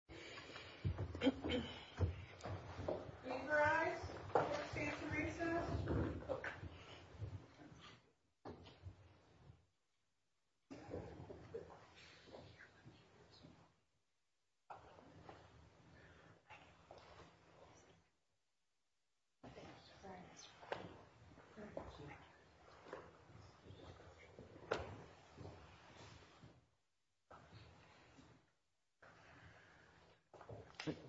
California Police General Business Finally Understand what 들 E I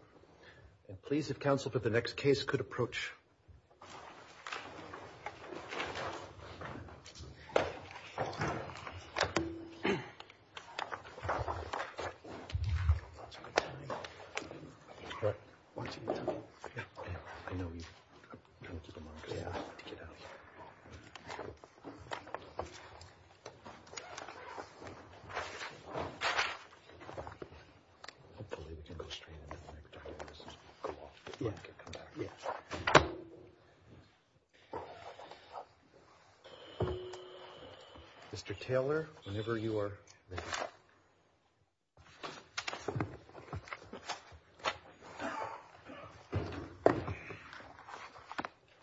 And please if counsel for the next case could approach Mr. Taylor whenever you are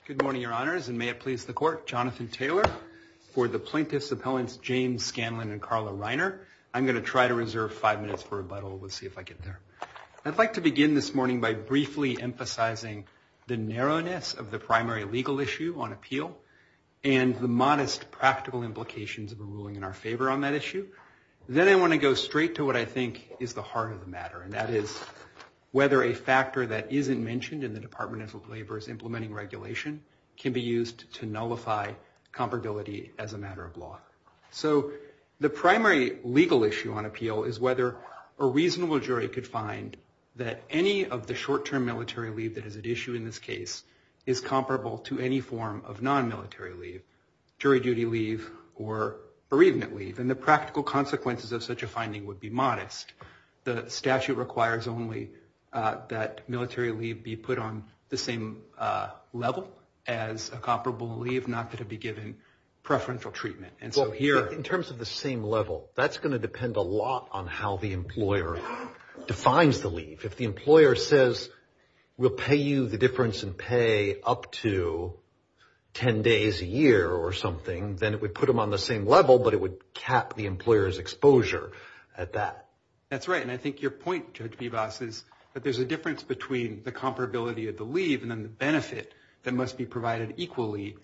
Good morning, your honors and may it please the court Jonathan Taylor for the plaintiffs appellants James Scanlon and Carla Reiner I'm going to try to reserve five minutes for rebuttal with see if I get there I'd like to begin this morning by briefly emphasizing the narrowness of the primary legal issue on appeal and the modest practical implications of a ruling in our favor on that issue Then I want to go straight to what I think is the heart of the matter and that is whether a factor that isn't mentioned in the Department of Labor's implementing regulation can be used to nullify comparability as a matter of law So the primary legal issue on appeal is whether a reasonable jury could find that any of the short-term military leave that is at issue in this case is comparable to any form of non-military leave jury duty leave or bereavement leave and the practical consequences of such a finding would be modest The statute requires only that military leave be put on the same level as a comparable leave not going to be given preferential treatment And so here in terms of the same level that's going to depend a lot on how the employer defines the leave if the employer says we'll pay you the difference in pay up to 10 days a year or something then it would put them on the same level but it would cap the employer's exposure at that That's right and I think your point Judge Bebas is that there's a difference between the comparability of the leave and then the benefit that must be provided equally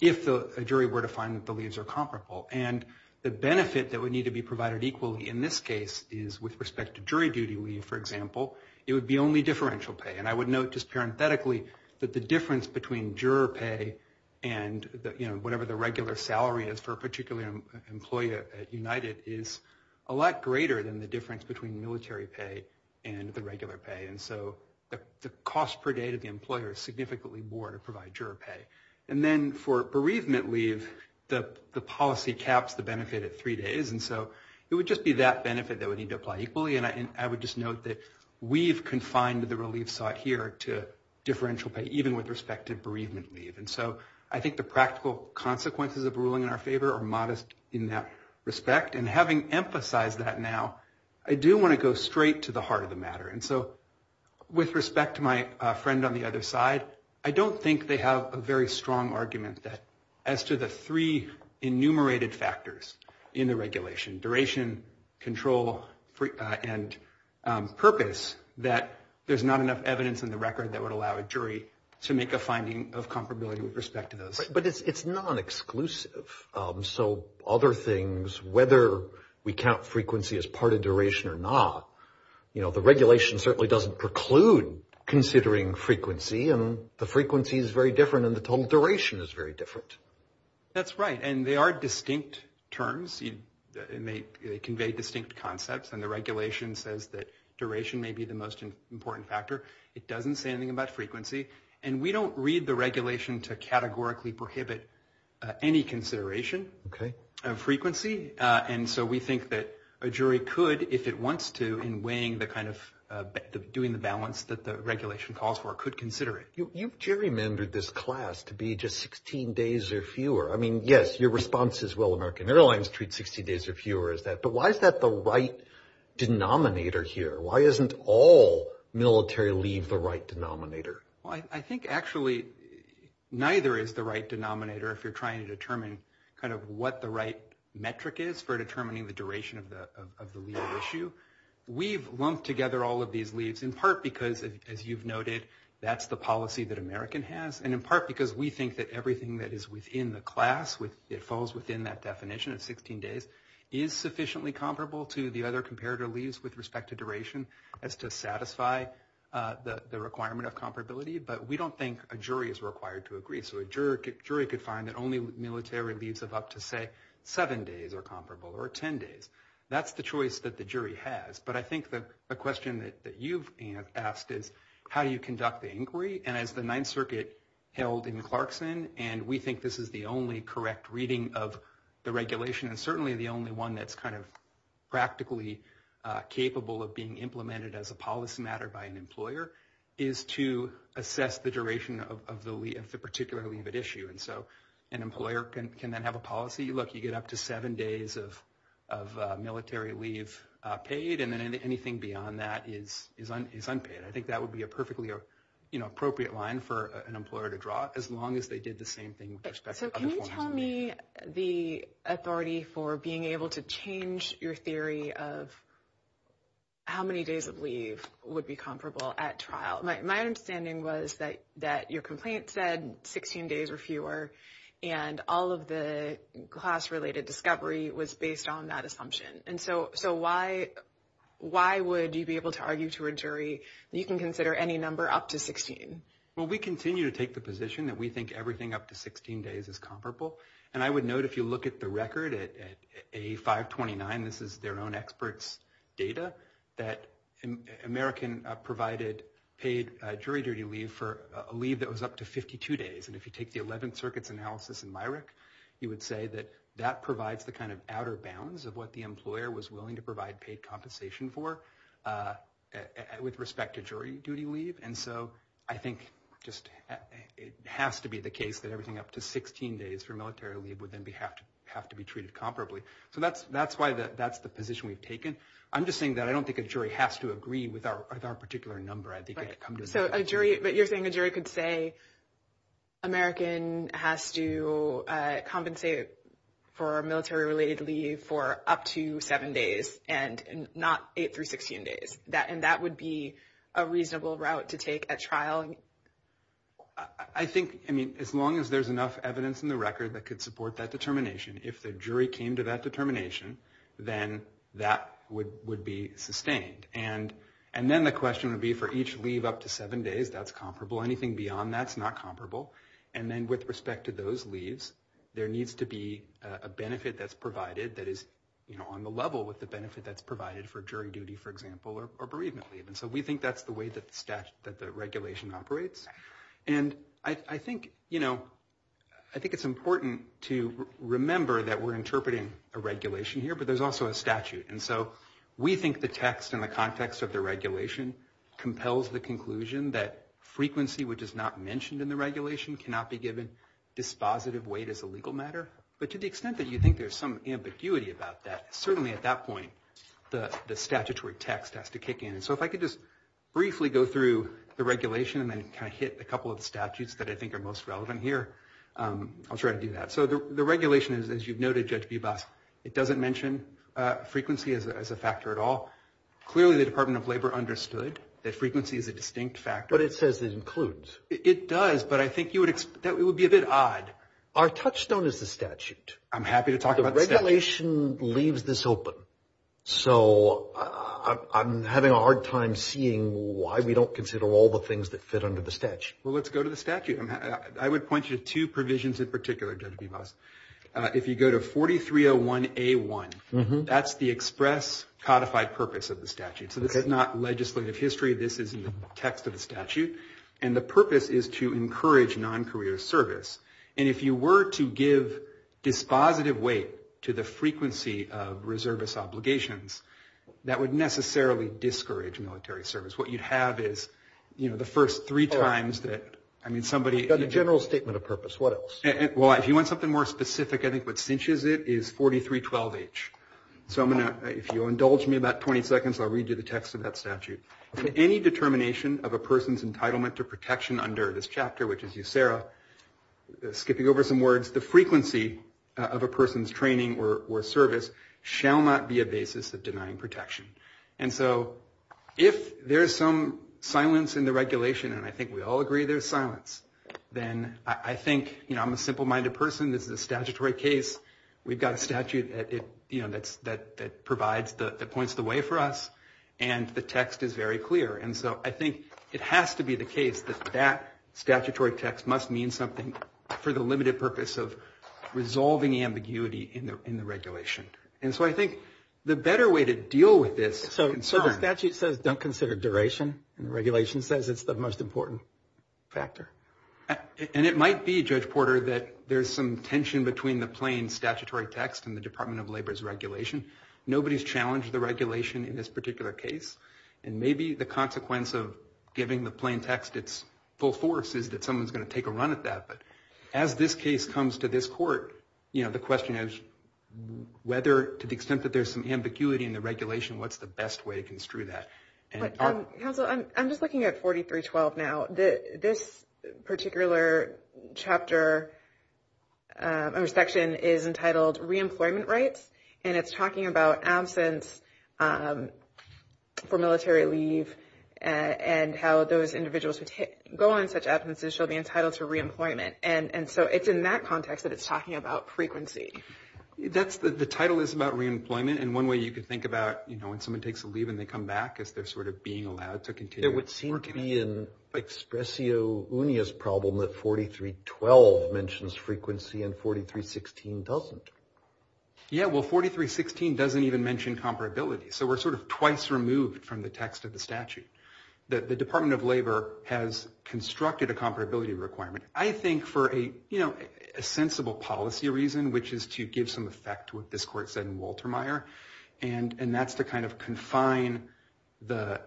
if a jury were to find that the leaves are comparable and the benefit that would need to be provided equally in this case is with respect to jury duty leave for example it would be only differential pay and I would note just parenthetically that the difference between juror pay and you know whatever the regular salary is for a particular employee at United is a lot greater than the difference between military pay and the regular pay and so the cost per day to the And then for bereavement leave the policy caps the benefit at three days and so it would just be that benefit that would need to apply equally and I would just note that we've confined the relief sought here to differential pay even with respect to bereavement leave and so I think the practical consequences of ruling in our favor are modest in that respect and having emphasized that now I do want to go straight to the heart of the matter and so with respect to my friend on the other side I don't think they have a very strong argument that as to the three enumerated factors in the regulation duration, control, and purpose that there's not enough evidence in the record that would allow a jury to make a finding of comparability with respect to those. But it's non-exclusive so other things whether we count frequency as part of duration or not you know the regulation certainly doesn't preclude considering frequency and the frequency is very different and the total duration is very different. That's right and they are distinct terms and they convey distinct concepts and the regulation says that duration may be the most important factor. It doesn't say anything about frequency and we don't read the regulation to categorically prohibit any consideration of frequency and so we think that a jury could if it wants to in weighing the kind of doing the balance that the regulation calls for could consider it. You've gerrymandered this class to be just 16 days or fewer. I mean yes your response is well American Airlines treats 16 days or fewer as that but why is that the right denominator here? Why isn't all military leave the right denominator? Well I think actually neither is the right denominator if you're trying to determine kind of what the right metric is for determining the duration of the leave. That's the issue. We've lumped together all of these leaves in part because as you've noted that's the policy that American has and in part because we think that everything that is within the class it falls within that definition of 16 days is sufficiently comparable to the other comparator leaves with respect to duration as to satisfy the requirement of comparability but we don't think a jury is required to agree. So a jury could find that only military leaves of up to say 7 days are comparable or 10 days. That's the choice that the jury has but I think the question that you've asked is how do you conduct the inquiry and as the Ninth Circuit held in Clarkson and we think this is the only correct reading of the regulation and certainly the only one that's kind of practically capable of being implemented as a policy matter by an employer is to assess the duration of the particular leave at issue and so an employer can then have a policy look you get up to 7 days of military leave paid and then anything beyond that is unpaid. I think that would be a perfectly appropriate line for an employer to draw as long as they did the same thing. So can you tell me the authority for being able to change your theory of how many days of leave would be comparable at trial? My understanding was that your assumption was that the class related discovery was based on that assumption and so why would you be able to argue to a jury that you can consider any number up to 16? Well we continue to take the position that we think everything up to 16 days is comparable and I would note if you look at the record at A529 this is their own expert's data that American provided paid jury duty leave for a leave that was up to 52 days and if you take the Eleventh Circuit's data from Myrick you would say that that provides the kind of outer bounds of what the employer was willing to provide paid compensation for with respect to jury duty leave and so I think just it has to be the case that everything up to 16 days for military leave would then have to be treated comparably. So that's why that's the position we've taken. I'm just saying that I don't think a jury has to agree with our particular number. So a jury but you're saying a jury could say American has to compensate for military related leave for up to 7 days and not 8 through 16 days and that would be a reasonable route to take at trial? I think I mean as long as there's enough evidence in the record that could support that determination if the jury came to that conclusion. If the jury came to the conclusion that there's no need to leave up to 7 days that's comparable anything beyond that's not comparable and then with respect to those leaves there needs to be a benefit that's provided that is on the level with the benefit that's provided for jury duty for example or bereavement leave and so we think that's the way that the regulation operates and I think it's important to remember that we're interpreting a regulation here but there's also a statute and so we think the text in the context of the regulation compels the conclusion that frequency which is not mentioned in the regulation cannot be given dispositive weight as a legal matter but to the extent that you think there's some ambiguity about that certainly at that point the statutory text has to kick in. So if I could just briefly go through the regulation and then kind of hit a couple of statutes that I think are most important. I don't see frequency as a factor at all. Clearly the Department of Labor understood that frequency is a distinct factor. But it says it includes. It does but I think you would expect that it would be a bit odd. Our touchstone is the statute. I'm happy to talk about the regulation leaves this open. So I'm having a hard time seeing why we don't consider all the things that fit under the statute. Well let's go to the statute. I would point you to two provisions in particular. If you go to 4301A1, that's the express codified purpose of the statute. So this is not legislative history. This is in the text of the statute. And the purpose is to encourage non-career service. And if you were to give dispositive weight to the frequency of reservist obligations that would necessarily discourage military service. What you'd have is the first three times that somebody... Well, if you want something more specific, I think what cinches it is 4312H. So if you indulge me about 20 seconds, I'll read you the text of that statute. Any determination of a person's entitlement to protection under this chapter, which is USERRA, skipping over some words, the frequency of a person's training or service shall not be a basis of denying protection. And so if there's some silence in the regulation, and I think we all agree there's silence, then I think I'm a simple-minded person. This is a statutory case. We've got a statute that points the way for us, and the text is very clear. And so I think it has to be the case that that statutory text must mean something for the limited purpose of resolving ambiguity in the regulation. And so I think the better way to deal with this... So the statute says don't consider duration, and the regulation says it's the most important factor. And it might be, Judge Porter, that there's some tension between the plain statutory text and the Department of Labor's regulation. Nobody's challenged the regulation in this particular case, and maybe the consequence of giving the plain text its full force is that someone's going to take a run at that. But as this case comes to this court, the question is whether, to the extent that there's some ambiguity in the regulation, what's the best way to construe that? Counsel, I'm just looking at 4312 now. This particular chapter or section is entitled Reemployment Rights, and it's talking about absence for military leave, and how those individuals who go on such absences shall be entitled to reemployment. And so it's in that context that it's talking about frequency. The title is about reemployment, and one way you could think about when someone takes a leave and they come back is they're sort of being allowed to continue. There would seem to be an expressio unius problem that 4312 mentions frequency and 4316 doesn't. Yeah, well, 4316 doesn't even mention comparability, so we're sort of twice removed from the text of the statute. The Department of Labor has done a number of things to give some effect to what this court said in Walter Meyer, and that's to kind of confine the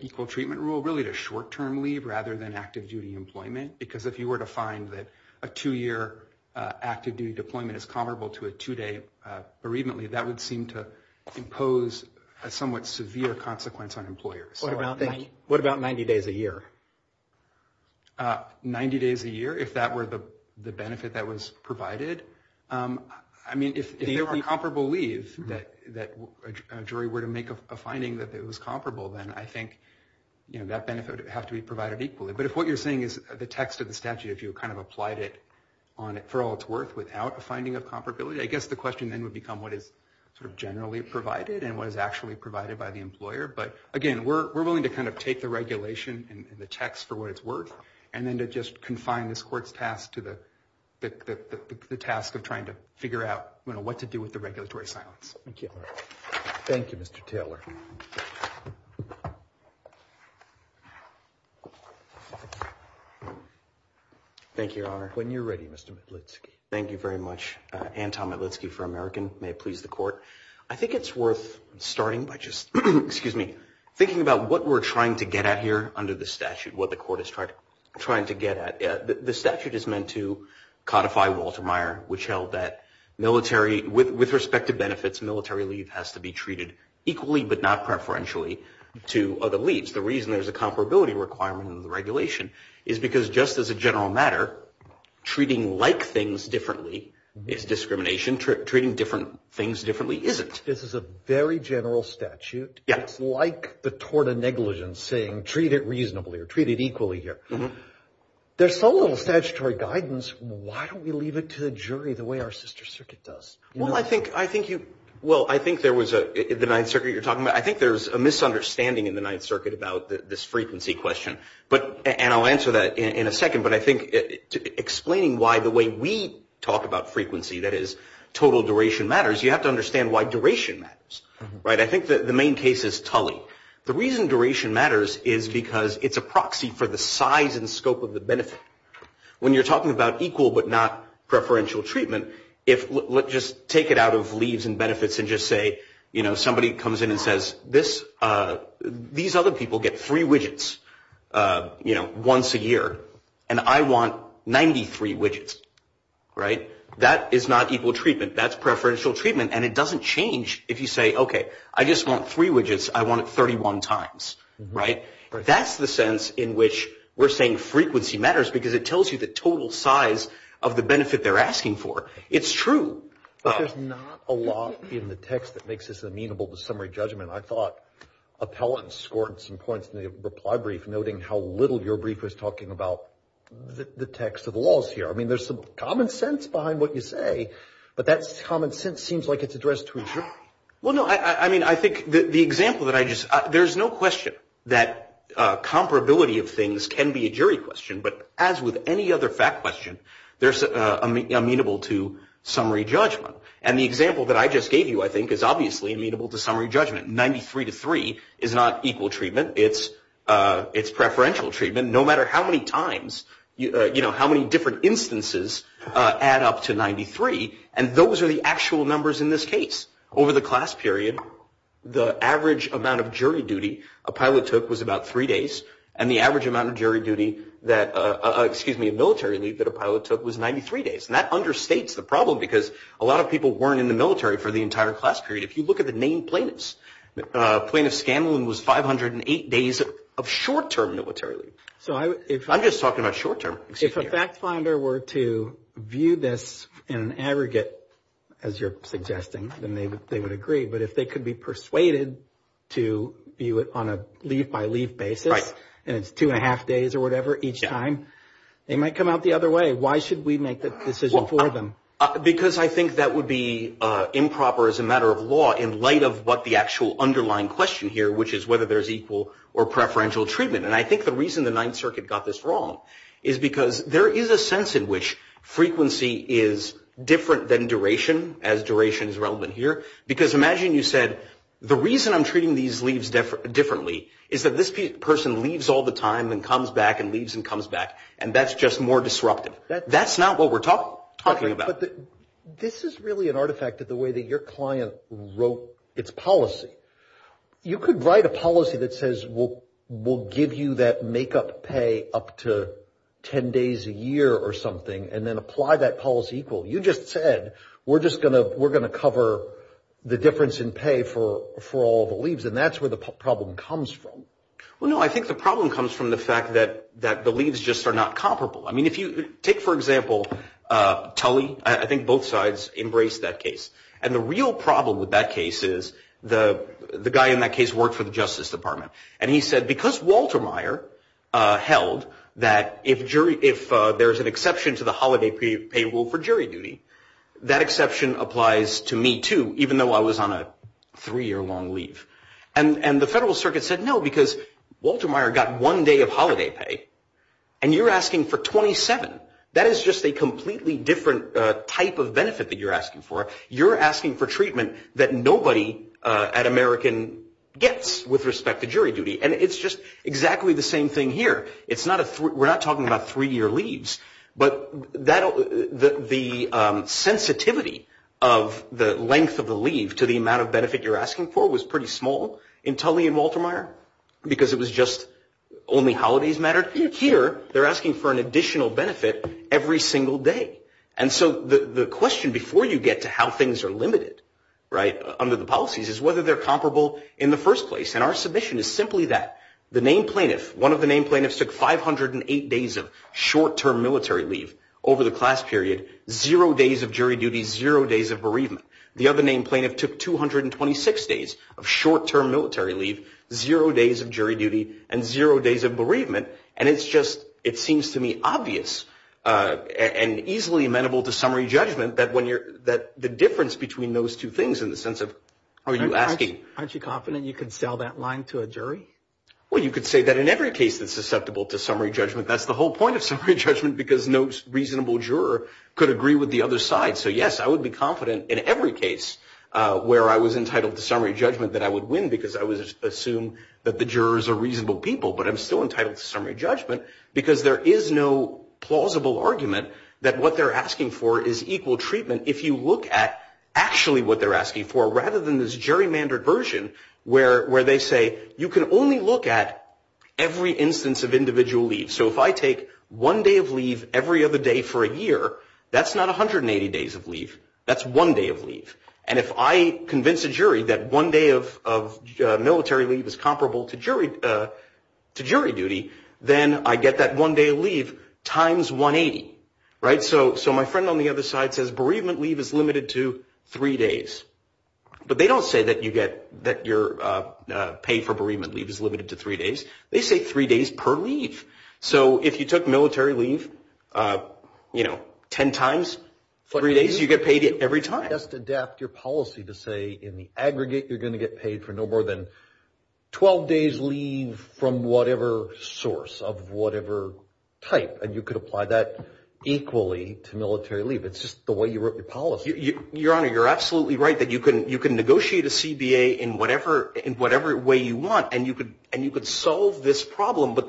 equal treatment rule really to short-term leave rather than active-duty employment. Because if you were to find that a two-year active-duty deployment is comparable to a two-day bereavement leave, that would seem to impose a somewhat severe consequence on employers. What about 90 days a year? 90 days a year, if that were the benefit that was provided? I mean, if there were a comparable leave that a jury were to make a finding that it was comparable, then I think that benefit would have to be provided equally. But if what you're saying is the text of the statute, if you kind of applied it for all its worth without a finding of comparability, I guess the question then would become what is sort of generally provided and what is actually provided by the employer. But again, we're willing to kind of take the regulation and the text for what it's worth and then to just confine this court's task to the task of trying to figure out, you know, what to do with the regulatory silence. Thank you. Thank you, Mr. Taylor. Thank you, Your Honor. When you're ready, Mr. Matlitsky. Thank you very much. Anton Matlitsky for American. May it please the Court. I think it's worth starting by just, excuse me, thinking about what we're trying to get at here under the statute, what the Court is trying to get at. The statute is meant to codify Walter Meyer, which held that military, with respect to the Court of Appeals, to be treated not preferentially to other leads. The reason there's a comparability requirement in the regulation is because just as a general matter, treating like things differently is discrimination. Treating different things differently isn't. This is a very general statute. It's like the tort of negligence, saying treat it reasonably or treat it equally here. There's so little statutory guidance, why don't we leave it to the jury the way our sister circuit does? Well, I think there was a, the Ninth Circuit you're talking about, I think there's a misunderstanding in the Ninth Circuit about this frequency question. And I'll answer that in a second. But I think explaining why the way we talk about frequency, that is total duration matters, you have to understand why duration matters. I think the main case is Tully. The reason duration matters is because it's a proxy for the size and scope of the benefit. When you're talking about equal but not preferential treatment, if, just take it out of leaves and benefits and just say, you know, somebody comes in and says, these other people get three widgets, you know, once a year, and I want 93 widgets, right? That is not equal treatment. That's preferential treatment. And it doesn't change if you say, okay, I just want three widgets, I want it 31 times, right? That's the sense in which we're saying frequency matters because it tells you the total size of the benefit they're asking for. It's true. But there's not a lot in the text that makes this amenable to summary judgment. I thought Appellant scored some points in the reply brief noting how little your brief was talking about the text of the laws here. I mean, there's some common sense behind what you say, but that common sense seems like it's addressed to a jury. Well, no, I mean, I think the example that I just, there's no question that comparability of things can be a jury question, but as with any other fact question, there's amenable to a jury question. There's amenable to summary judgment. And the example that I just gave you, I think, is obviously amenable to summary judgment. 93 to 3 is not equal treatment, it's preferential treatment, no matter how many times, you know, how many different instances add up to 93, and those are the actual numbers in this case. Over the class period, the average amount of jury duty Appellant took was about three days, and the average amount of jury duty that, excuse me, military duty that Appellant took was 93 days. And that understates the problem, because a lot of people weren't in the military for the entire class period. If you look at the named plaintiffs, Plaintiff Scanlon was 508 days of short-term military duty. I'm just talking about short-term. If a fact finder were to view this in an aggregate, as you're suggesting, then they would agree, but if they could be persuaded to view it on a leave-by-leave basis, and it's two and a half days or whatever each time, they might come out the other way. Why should we make that decision for them? Because I think that would be improper as a matter of law in light of what the actual underlying question here, which is whether there's equal or preferential treatment. And I think the reason the Ninth Circuit got this wrong is because there is a sense in which frequency is different than duration, as duration is relevant here, because imagine you said, the reason I'm treating these leaves differently is that this person leaves all the time and comes back and leaves and comes back, and that's just more disruptive. That's not what we're talking about. But this is really an artifact of the way that your client wrote its policy. You could write a policy that says, we'll give you that make-up pay up to 10 days a year or something, and then apply that policy equal. You just said, we're just going to cover the difference in pay for all the leaves, and that's where the problem comes from. Well, no, I think the problem comes from the fact that the leaves just are not comparable. I mean, if you take, for example, Tully, I think both sides embraced that case. And the real problem with that case is the guy in that case worked for the Justice Department. And he said, because Walter Meyer held that if there's an exception to the holiday pay rule for jury duty, that exception applies to me, too, even though I was on a three-year-long leave. And the Federal Circuit said, no, because Walter Meyer got one day of holiday pay, and you're asking for 20 days of holiday pay. That's 27. That is just a completely different type of benefit that you're asking for. You're asking for treatment that nobody at American gets with respect to jury duty, and it's just exactly the same thing here. We're not talking about three-year leaves, but the sensitivity of the length of the leave to the amount of benefit you're asking for was pretty small in Tully and Walter Meyer, because it was just only holidays mattered. Here, they're asking for an additional benefit every single day. And so the question before you get to how things are limited under the policies is whether they're comparable in the first place. And our submission is simply that the named plaintiff, one of the named plaintiffs took 508 days of short-term military leave over the class period, zero days of jury duty, zero days of bereavement. The other named plaintiff took 226 days of short-term military leave, zero days of jury duty, and zero days of bereavement. And it's just, it seems to me obvious and easily amenable to summary judgment that the difference between those two things in the sense of, are you asking? Aren't you confident you could sell that line to a jury? Well, you could say that in every case that's susceptible to summary judgment, that's the whole point of summary judgment, because no reasonable juror could agree with the other side. So yes, I would be confident in every case where I was entitled to summary judgment that I would win, because I would assume that the jurors are reasonable people, but I'm still entitled to summary judgment. Because there is no plausible argument that what they're asking for is equal treatment if you look at actually what they're asking for, rather than this gerrymandered version where they say, you can only look at every instance of individual leave. So if I take one day of leave every other day for a year, that's not 180 days of leave, that's one day of leave. And if I convince a jury that one day of military leave is comparable to jury duty, that's one day of leave. And if I convince a jury that one day of military leave is comparable to jury duty, then I get that one day of leave times 180, right? So my friend on the other side says, bereavement leave is limited to three days. But they don't say that you get, that your pay for bereavement leave is limited to three days, they say three days per leave. So if you took military leave, you know, 10 times, three days, you get paid every time. Just adapt your policy to say, in the aggregate, you're going to get paid for no more than 12 days leave from whatever source. Of whatever type. And you could apply that equally to military leave. It's just the way you wrote your policy. Your Honor, you're absolutely right that you can negotiate a CBA in whatever way you want, and you could solve this problem. But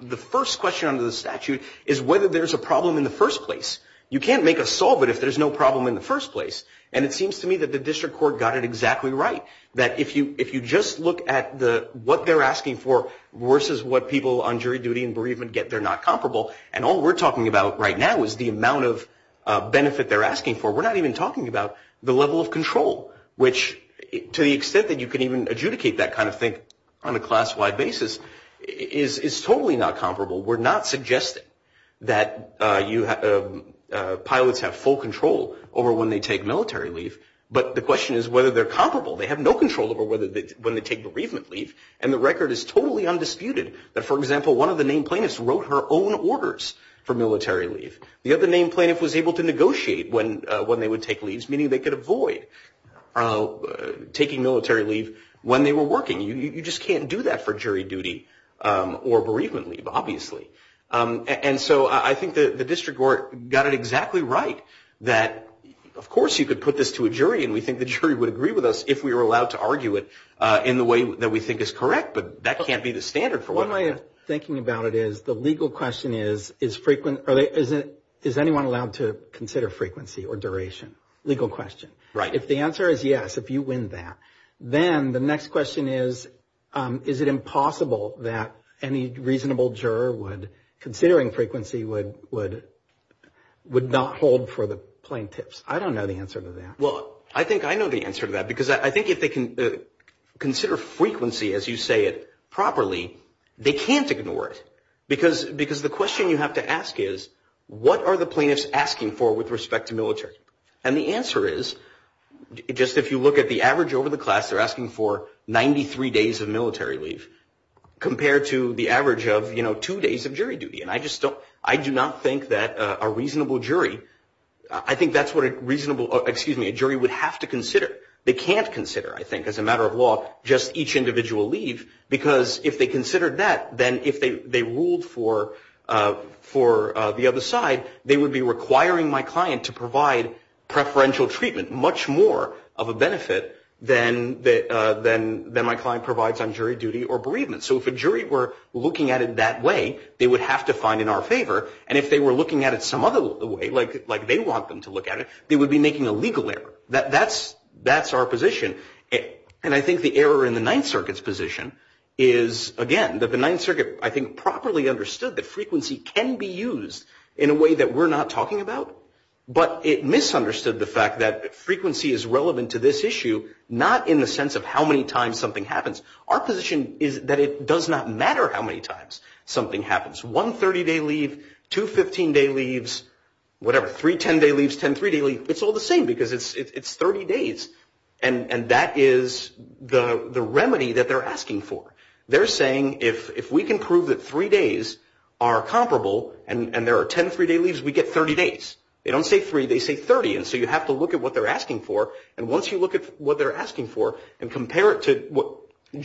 the first question under the statute is whether there's a problem in the first place. You can't make a solve it if there's no problem in the first place. And it seems to me that the district court got it exactly right. That if you just look at what they're asking for versus what people on jury duty and bereavement get, they're not comparable. And all we're talking about right now is the amount of benefit they're asking for. We're not even talking about the level of control, which, to the extent that you can even adjudicate that kind of thing on a class-wide basis, is totally not comparable. We're not suggesting that pilots have full control over when they take military leave. But the question is whether they're comparable. They have no control over when they take bereavement leave. And the record is totally undisputed that, for example, one of the named plaintiffs wrote her own orders for military leave. The other named plaintiff was able to negotiate when they would take leaves, meaning they could avoid taking military leave when they were working. You just can't do that for jury duty or bereavement leave, obviously. And so I think the district court got it exactly right. That, of course, you could put this to a jury, and we think the jury would agree with us if we were allowed to argue it in the way that we think is correct. But that can't be the standard for what... One way of thinking about it is the legal question is, is anyone allowed to consider frequency or duration? Legal question. Right. If the answer is yes, if you win that, then the next question is, is it impossible that any reasonable juror would, considering frequency, would not hold for a jury? Or the plaintiffs? I don't know the answer to that. Well, I think I know the answer to that, because I think if they can consider frequency, as you say it, properly, they can't ignore it. Because the question you have to ask is, what are the plaintiffs asking for with respect to military? And the answer is, just if you look at the average over the class, they're asking for 93 days of military leave, compared to the average of, you know, two days of jury duty. And I just don't, I do not think that a reasonable jury, I think that's what a reasonable, excuse me, a jury would have to consider. They can't consider, I think, as a matter of law, just each individual leave, because if they considered that, then if they ruled for the other side, they would be requiring my client to provide preferential treatment, much more of a benefit than my client provides on jury duty or bereavement. So if a jury were looking at it that way, they would have to find in our favor, and if they were looking at it some other way, like they want them to look at it, they would be making a legal error. That's our position. And I think the error in the Ninth Circuit's position is, again, that the Ninth Circuit, I think, properly understood that frequency can be used in a way that we're not talking about. But it misunderstood the fact that frequency is relevant to this issue, not in the sense of how many times something happens. Our position is that it does not matter how many times something happens. One 30-day leave, two 15-day leaves, whatever, three 10-day leaves, 10 three-day leaves, it's all the same, because it's 30 days. And that is the remedy that they're asking for. They're saying, if we can prove that three days are comparable, and there are 10 three-day leaves, we get 30 days. They don't say three, they say 30, and so you have to look at what they're asking for, and once you look at what they're asking for, and compare it to what they're asking for. And if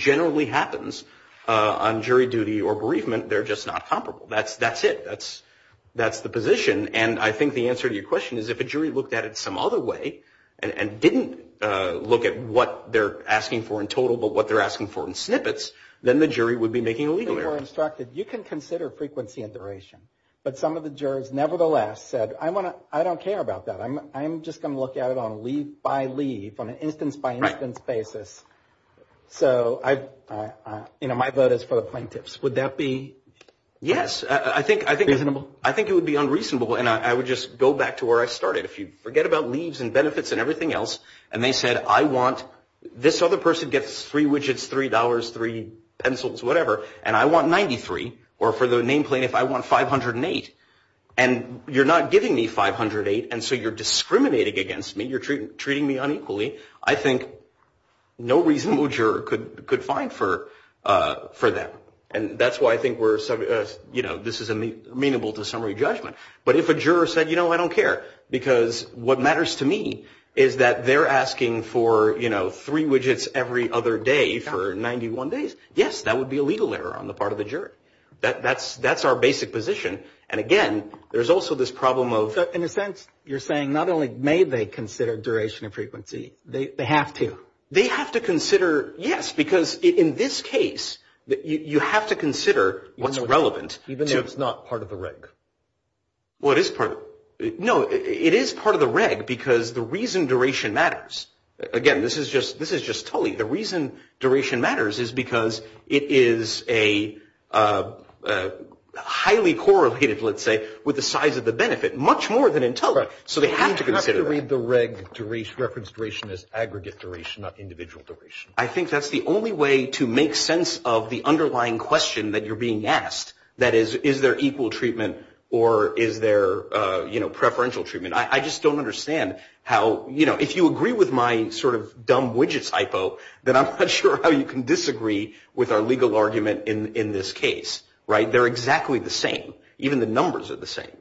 something generally happens on jury duty or bereavement, they're just not comparable. That's it. That's the position. And I think the answer to your question is, if a jury looked at it some other way, and didn't look at what they're asking for in total, but what they're asking for in snippets, then the jury would be making a legal error. They were instructed, you can consider frequency and duration. But some of the jurors, nevertheless, said, I don't care about that. I'm just going to look at it on leave-by-leave, on an instance-by-instance basis. So, my vote is for the plaintiffs. Would that be reasonable? Yes. I think it would be unreasonable, and I would just go back to where I started. If you forget about leaves and benefits and everything else, and they said, I want, this other person gets three widgets, three dollars, three pencils, whatever, and I want 93. Or for the name plaintiff, I want 508. And you're not giving me 508, and so you're discriminating against me. You're treating me unequally. I think no reasonable juror could find for that. And that's why I think this is amenable to summary judgment. But if a juror said, you know, I don't care, because what matters to me is that they're asking for three widgets every other day for 91 days, yes, that would be a legal error on the part of the juror. That's our basic position. And again, there's also this problem of... They have to. They have to consider, yes, because in this case, you have to consider what's relevant. Even if it's not part of the reg? No, it is part of the reg because the reason duration matters. Again, this is just Tully. The reason duration matters is because it is a highly correlated, let's say, with the size of the benefit, much more than in Tully. So they have to consider that. I think that's the only way to make sense of the underlying question that you're being asked. That is, is there equal treatment or is there preferential treatment? I just don't understand how... If you agree with my sort of dumb widgets hypo, then I'm not sure how you can disagree with our legal argument in this case. They're exactly the same. Even the numbers are the same.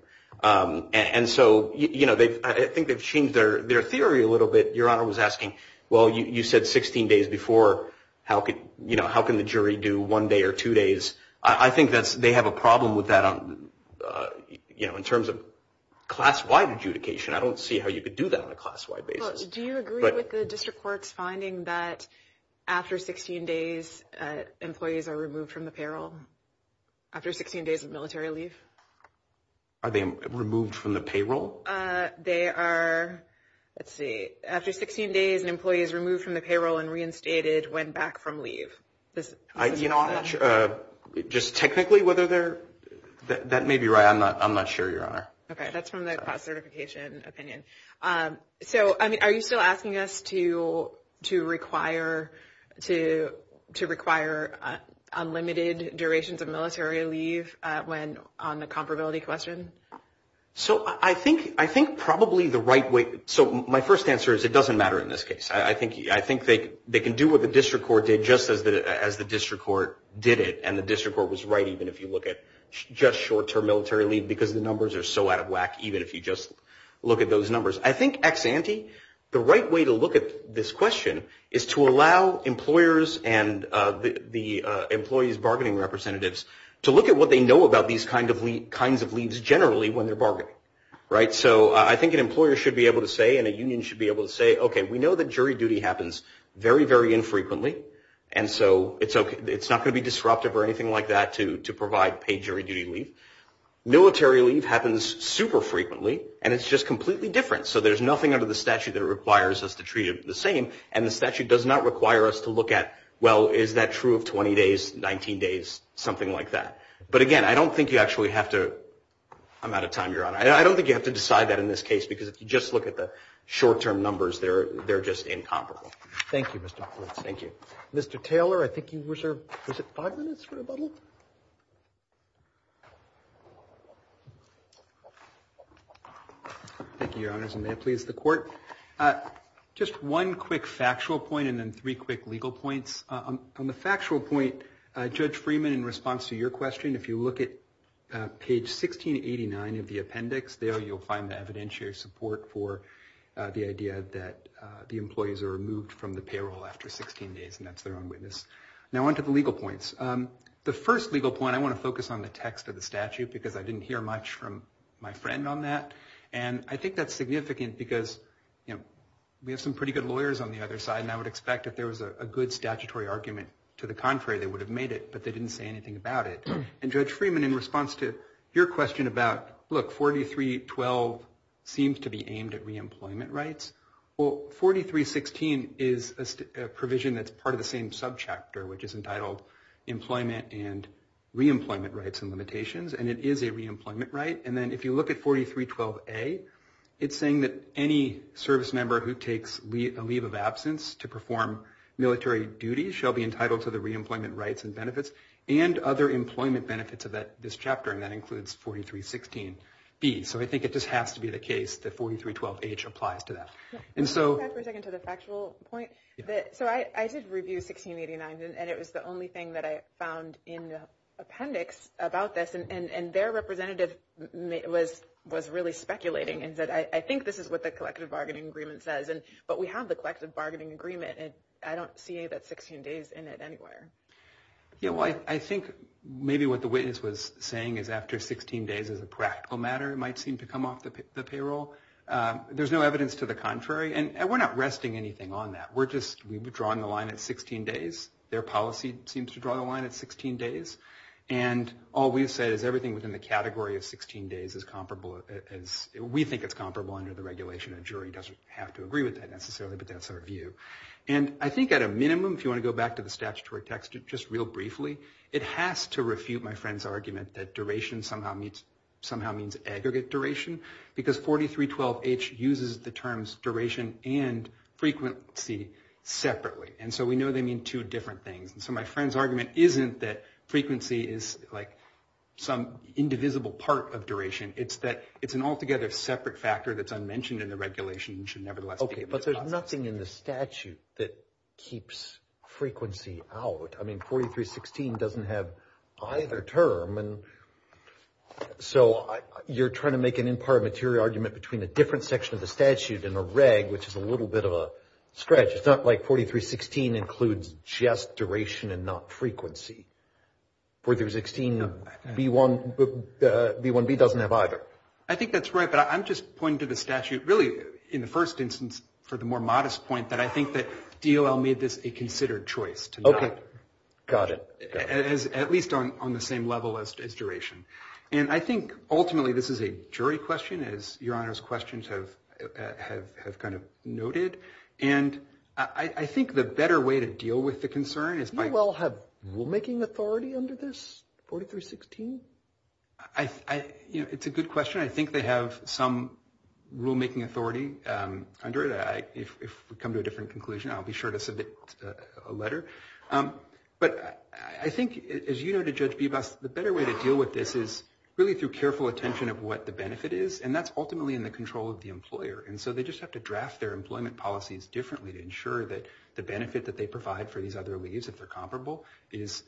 And so I think they've changed their theory a little bit. Your Honor was asking, well, you said 16 days before. How can the jury do one day or two days? I think they have a problem with that in terms of class-wide adjudication. I don't see how you could do that on a class-wide basis. Do you agree with the district court's finding that after 16 days, employees are removed from the peril? After 16 days of military leave? Are they removed from the payroll? They are... Let's see. After 16 days, an employee is removed from the payroll and reinstated when back from leave. You know, I'm not sure. Just technically, whether they're... That may be right. I'm not sure, Your Honor. Okay. That's from the class certification opinion. So, I mean, are you still asking us to require unlimited durations of military leave when on leave? Is that a question on the comparability question? So I think probably the right way... So my first answer is it doesn't matter in this case. I think they can do what the district court did just as the district court did it. And the district court was right, even if you look at just short-term military leave, because the numbers are so out of whack, even if you just look at those numbers. I think ex ante, the right way to look at this question is to allow employers and the employees' bargaining representatives to look at what they know about these kind of leaves. And what they know about the kinds of leaves generally when they're bargaining. Right? So I think an employer should be able to say and a union should be able to say, okay, we know that jury duty happens very, very infrequently, and so it's not going to be disruptive or anything like that to provide paid jury duty leave. Military leave happens super frequently, and it's just completely different. So there's nothing under the statute that requires us to treat it the same, and the statute does not require us to look at, well, is that true of 20 days, 19 days, something like that. But again, I don't think you actually have to, I'm out of time, Your Honor. I don't think you have to decide that in this case, because if you just look at the short-term numbers, they're just incomparable. Thank you, Mr. Huffman. Thank you. Mr. Taylor, I think you reserved, was it five minutes for rebuttal? Thank you, Your Honors, and may it please the Court. Just one quick factual point and then three quick legal points. On the factual point, Judge Freeman, in response to your question, if you look at page 1689 of the appendix, there you'll find the evidentiary support for the idea that the employees are removed from the payroll after 16 days, and that's their own witness. Now on to the legal points. The first legal point, I want to focus on the text of the statute, because I didn't hear much from my friend on that, and I think that's significant, because we have some pretty good lawyers on the other side, and I would expect if there was a good statutory argument to the contrary, they would have made it, but they didn't say anything about it. And Judge Freeman, in response to your question about, look, 4312 seems to be aimed at reemployment rights. Well, 4316 is a provision that's part of the same subchapter, which is entitled Employment and Reemployment Rights and Limitations, and it is a reemployment right. And then if you look at 4312A, it's saying that any service member who takes a leave of absence to perform military duties shall be entitled to the reemployment rights and benefits, and other employment rights and limitations. And so there are employment benefits of this chapter, and that includes 4316B. So I think it just has to be the case that 4312H applies to that. And so... So I did review 1689, and it was the only thing that I found in the appendix about this, and their representative was really speculating and said, I think this is what the collective bargaining agreement says, but we have the collective bargaining agreement, and I don't see that 16 days in it anywhere. Yeah, well, I think maybe what the witness was saying is after 16 days as a practical matter, it might seem to come off the payroll. There's no evidence to the contrary, and we're not resting anything on that. We're just... We've drawn the line at 16 days. Their policy seems to draw the line at 16 days. And all we've said is everything within the category of 16 days is comparable as... We think it's comparable under the regulation. A jury doesn't have to agree with that necessarily, but that's our view. And I think at a minimum, if you want to go back to the statutory text just real briefly, it has to refute my friend's argument that duration somehow means aggregate duration, because 4312H uses the terms duration and frequency separately. And so we know they mean two different things. And so my friend's argument isn't that frequency is like some indivisible part of duration. It's that it's an altogether separate factor that's unmentioned in the regulation and should nevertheless be... But there's nothing in the statute that keeps frequency out. I mean, 4316 doesn't have either term. And so you're trying to make an imparted material argument between a different section of the statute and a reg, which is a little bit of a stretch. It's not like 4316 includes just duration and not frequency. 4316B1B doesn't have either. I think that's right, but I'm just pointing to the statute really in the first instance for the more modest point that I think that DOL made this a considered choice to not... Okay. Got it. At least on the same level as duration. And I think ultimately this is a jury question, as Your Honor's questions have kind of noted. And I think the better way to deal with the concern is by... DOL have rulemaking authority under this 4316? It's a good question. I think they have some rulemaking authority under it. If we come to a different conclusion, I'll be sure to submit a letter. But I think, as you know, to Judge Bebas, the better way to deal with this is really through careful attention of what the benefit is, and that's ultimately in the control of the employer. And so they just have to draft their employment policies differently to ensure that the benefit that they provide for these other leaves, if they're comparable, is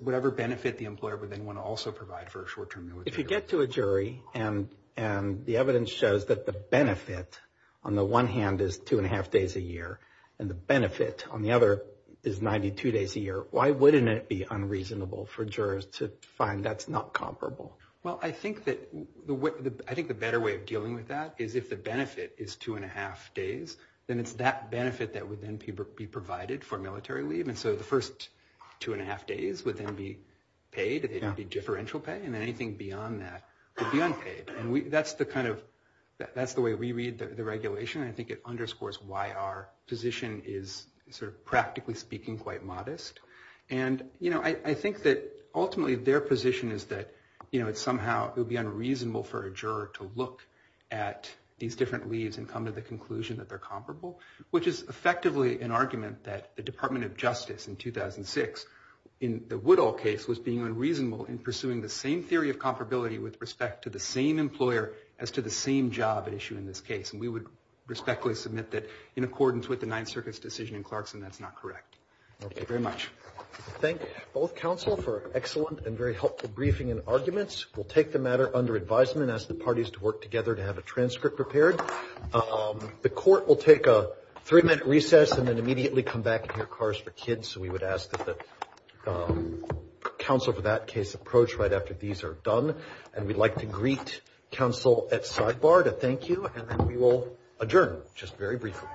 whatever benefit the employer would then want to also provide for a short-term military... If you get to a jury and the evidence shows that the benefit on the one hand is two and a half days a year, and the benefit on the other is 92 days a year, why wouldn't it be unreasonable for jurors to find that's not comparable? Well, I think that the better way of dealing with that is if the benefit is two and a half days, then it's that benefit that would then be provided for military leave. And so the first two and a half days would then be paid, it would be differential pay, and anything beyond that would be unpaid. And that's the kind of... That's the way we read the regulation. I think it underscores why our position is sort of, practically speaking, quite modest. And I think that ultimately their position is that somehow it would be unreasonable for a juror to look at these different leaves and come to the conclusion that they're comparable, which is effectively an argument that the Department of Justice in 2006, in the Woodall case, was being unreasonable in pursuing the same theory of comparability with respect to the same employer as to the same job at issue in this case. And we would respectfully submit that in accordance with the Ninth Circuit's decision in Clarkson, that's not correct. Thank you very much. Thank you, both counsel, for an excellent and very helpful briefing and arguments. We'll take the matter under advisement and ask the parties to work together to have a transcript prepared. The court will take a three-minute recess and then immediately come back and hear Kars for Kids. So we would ask that the counsel for that case approach right after these are done. And we'd like to greet counsel at sidebar to thank you, and then we will adjourn just very briefly.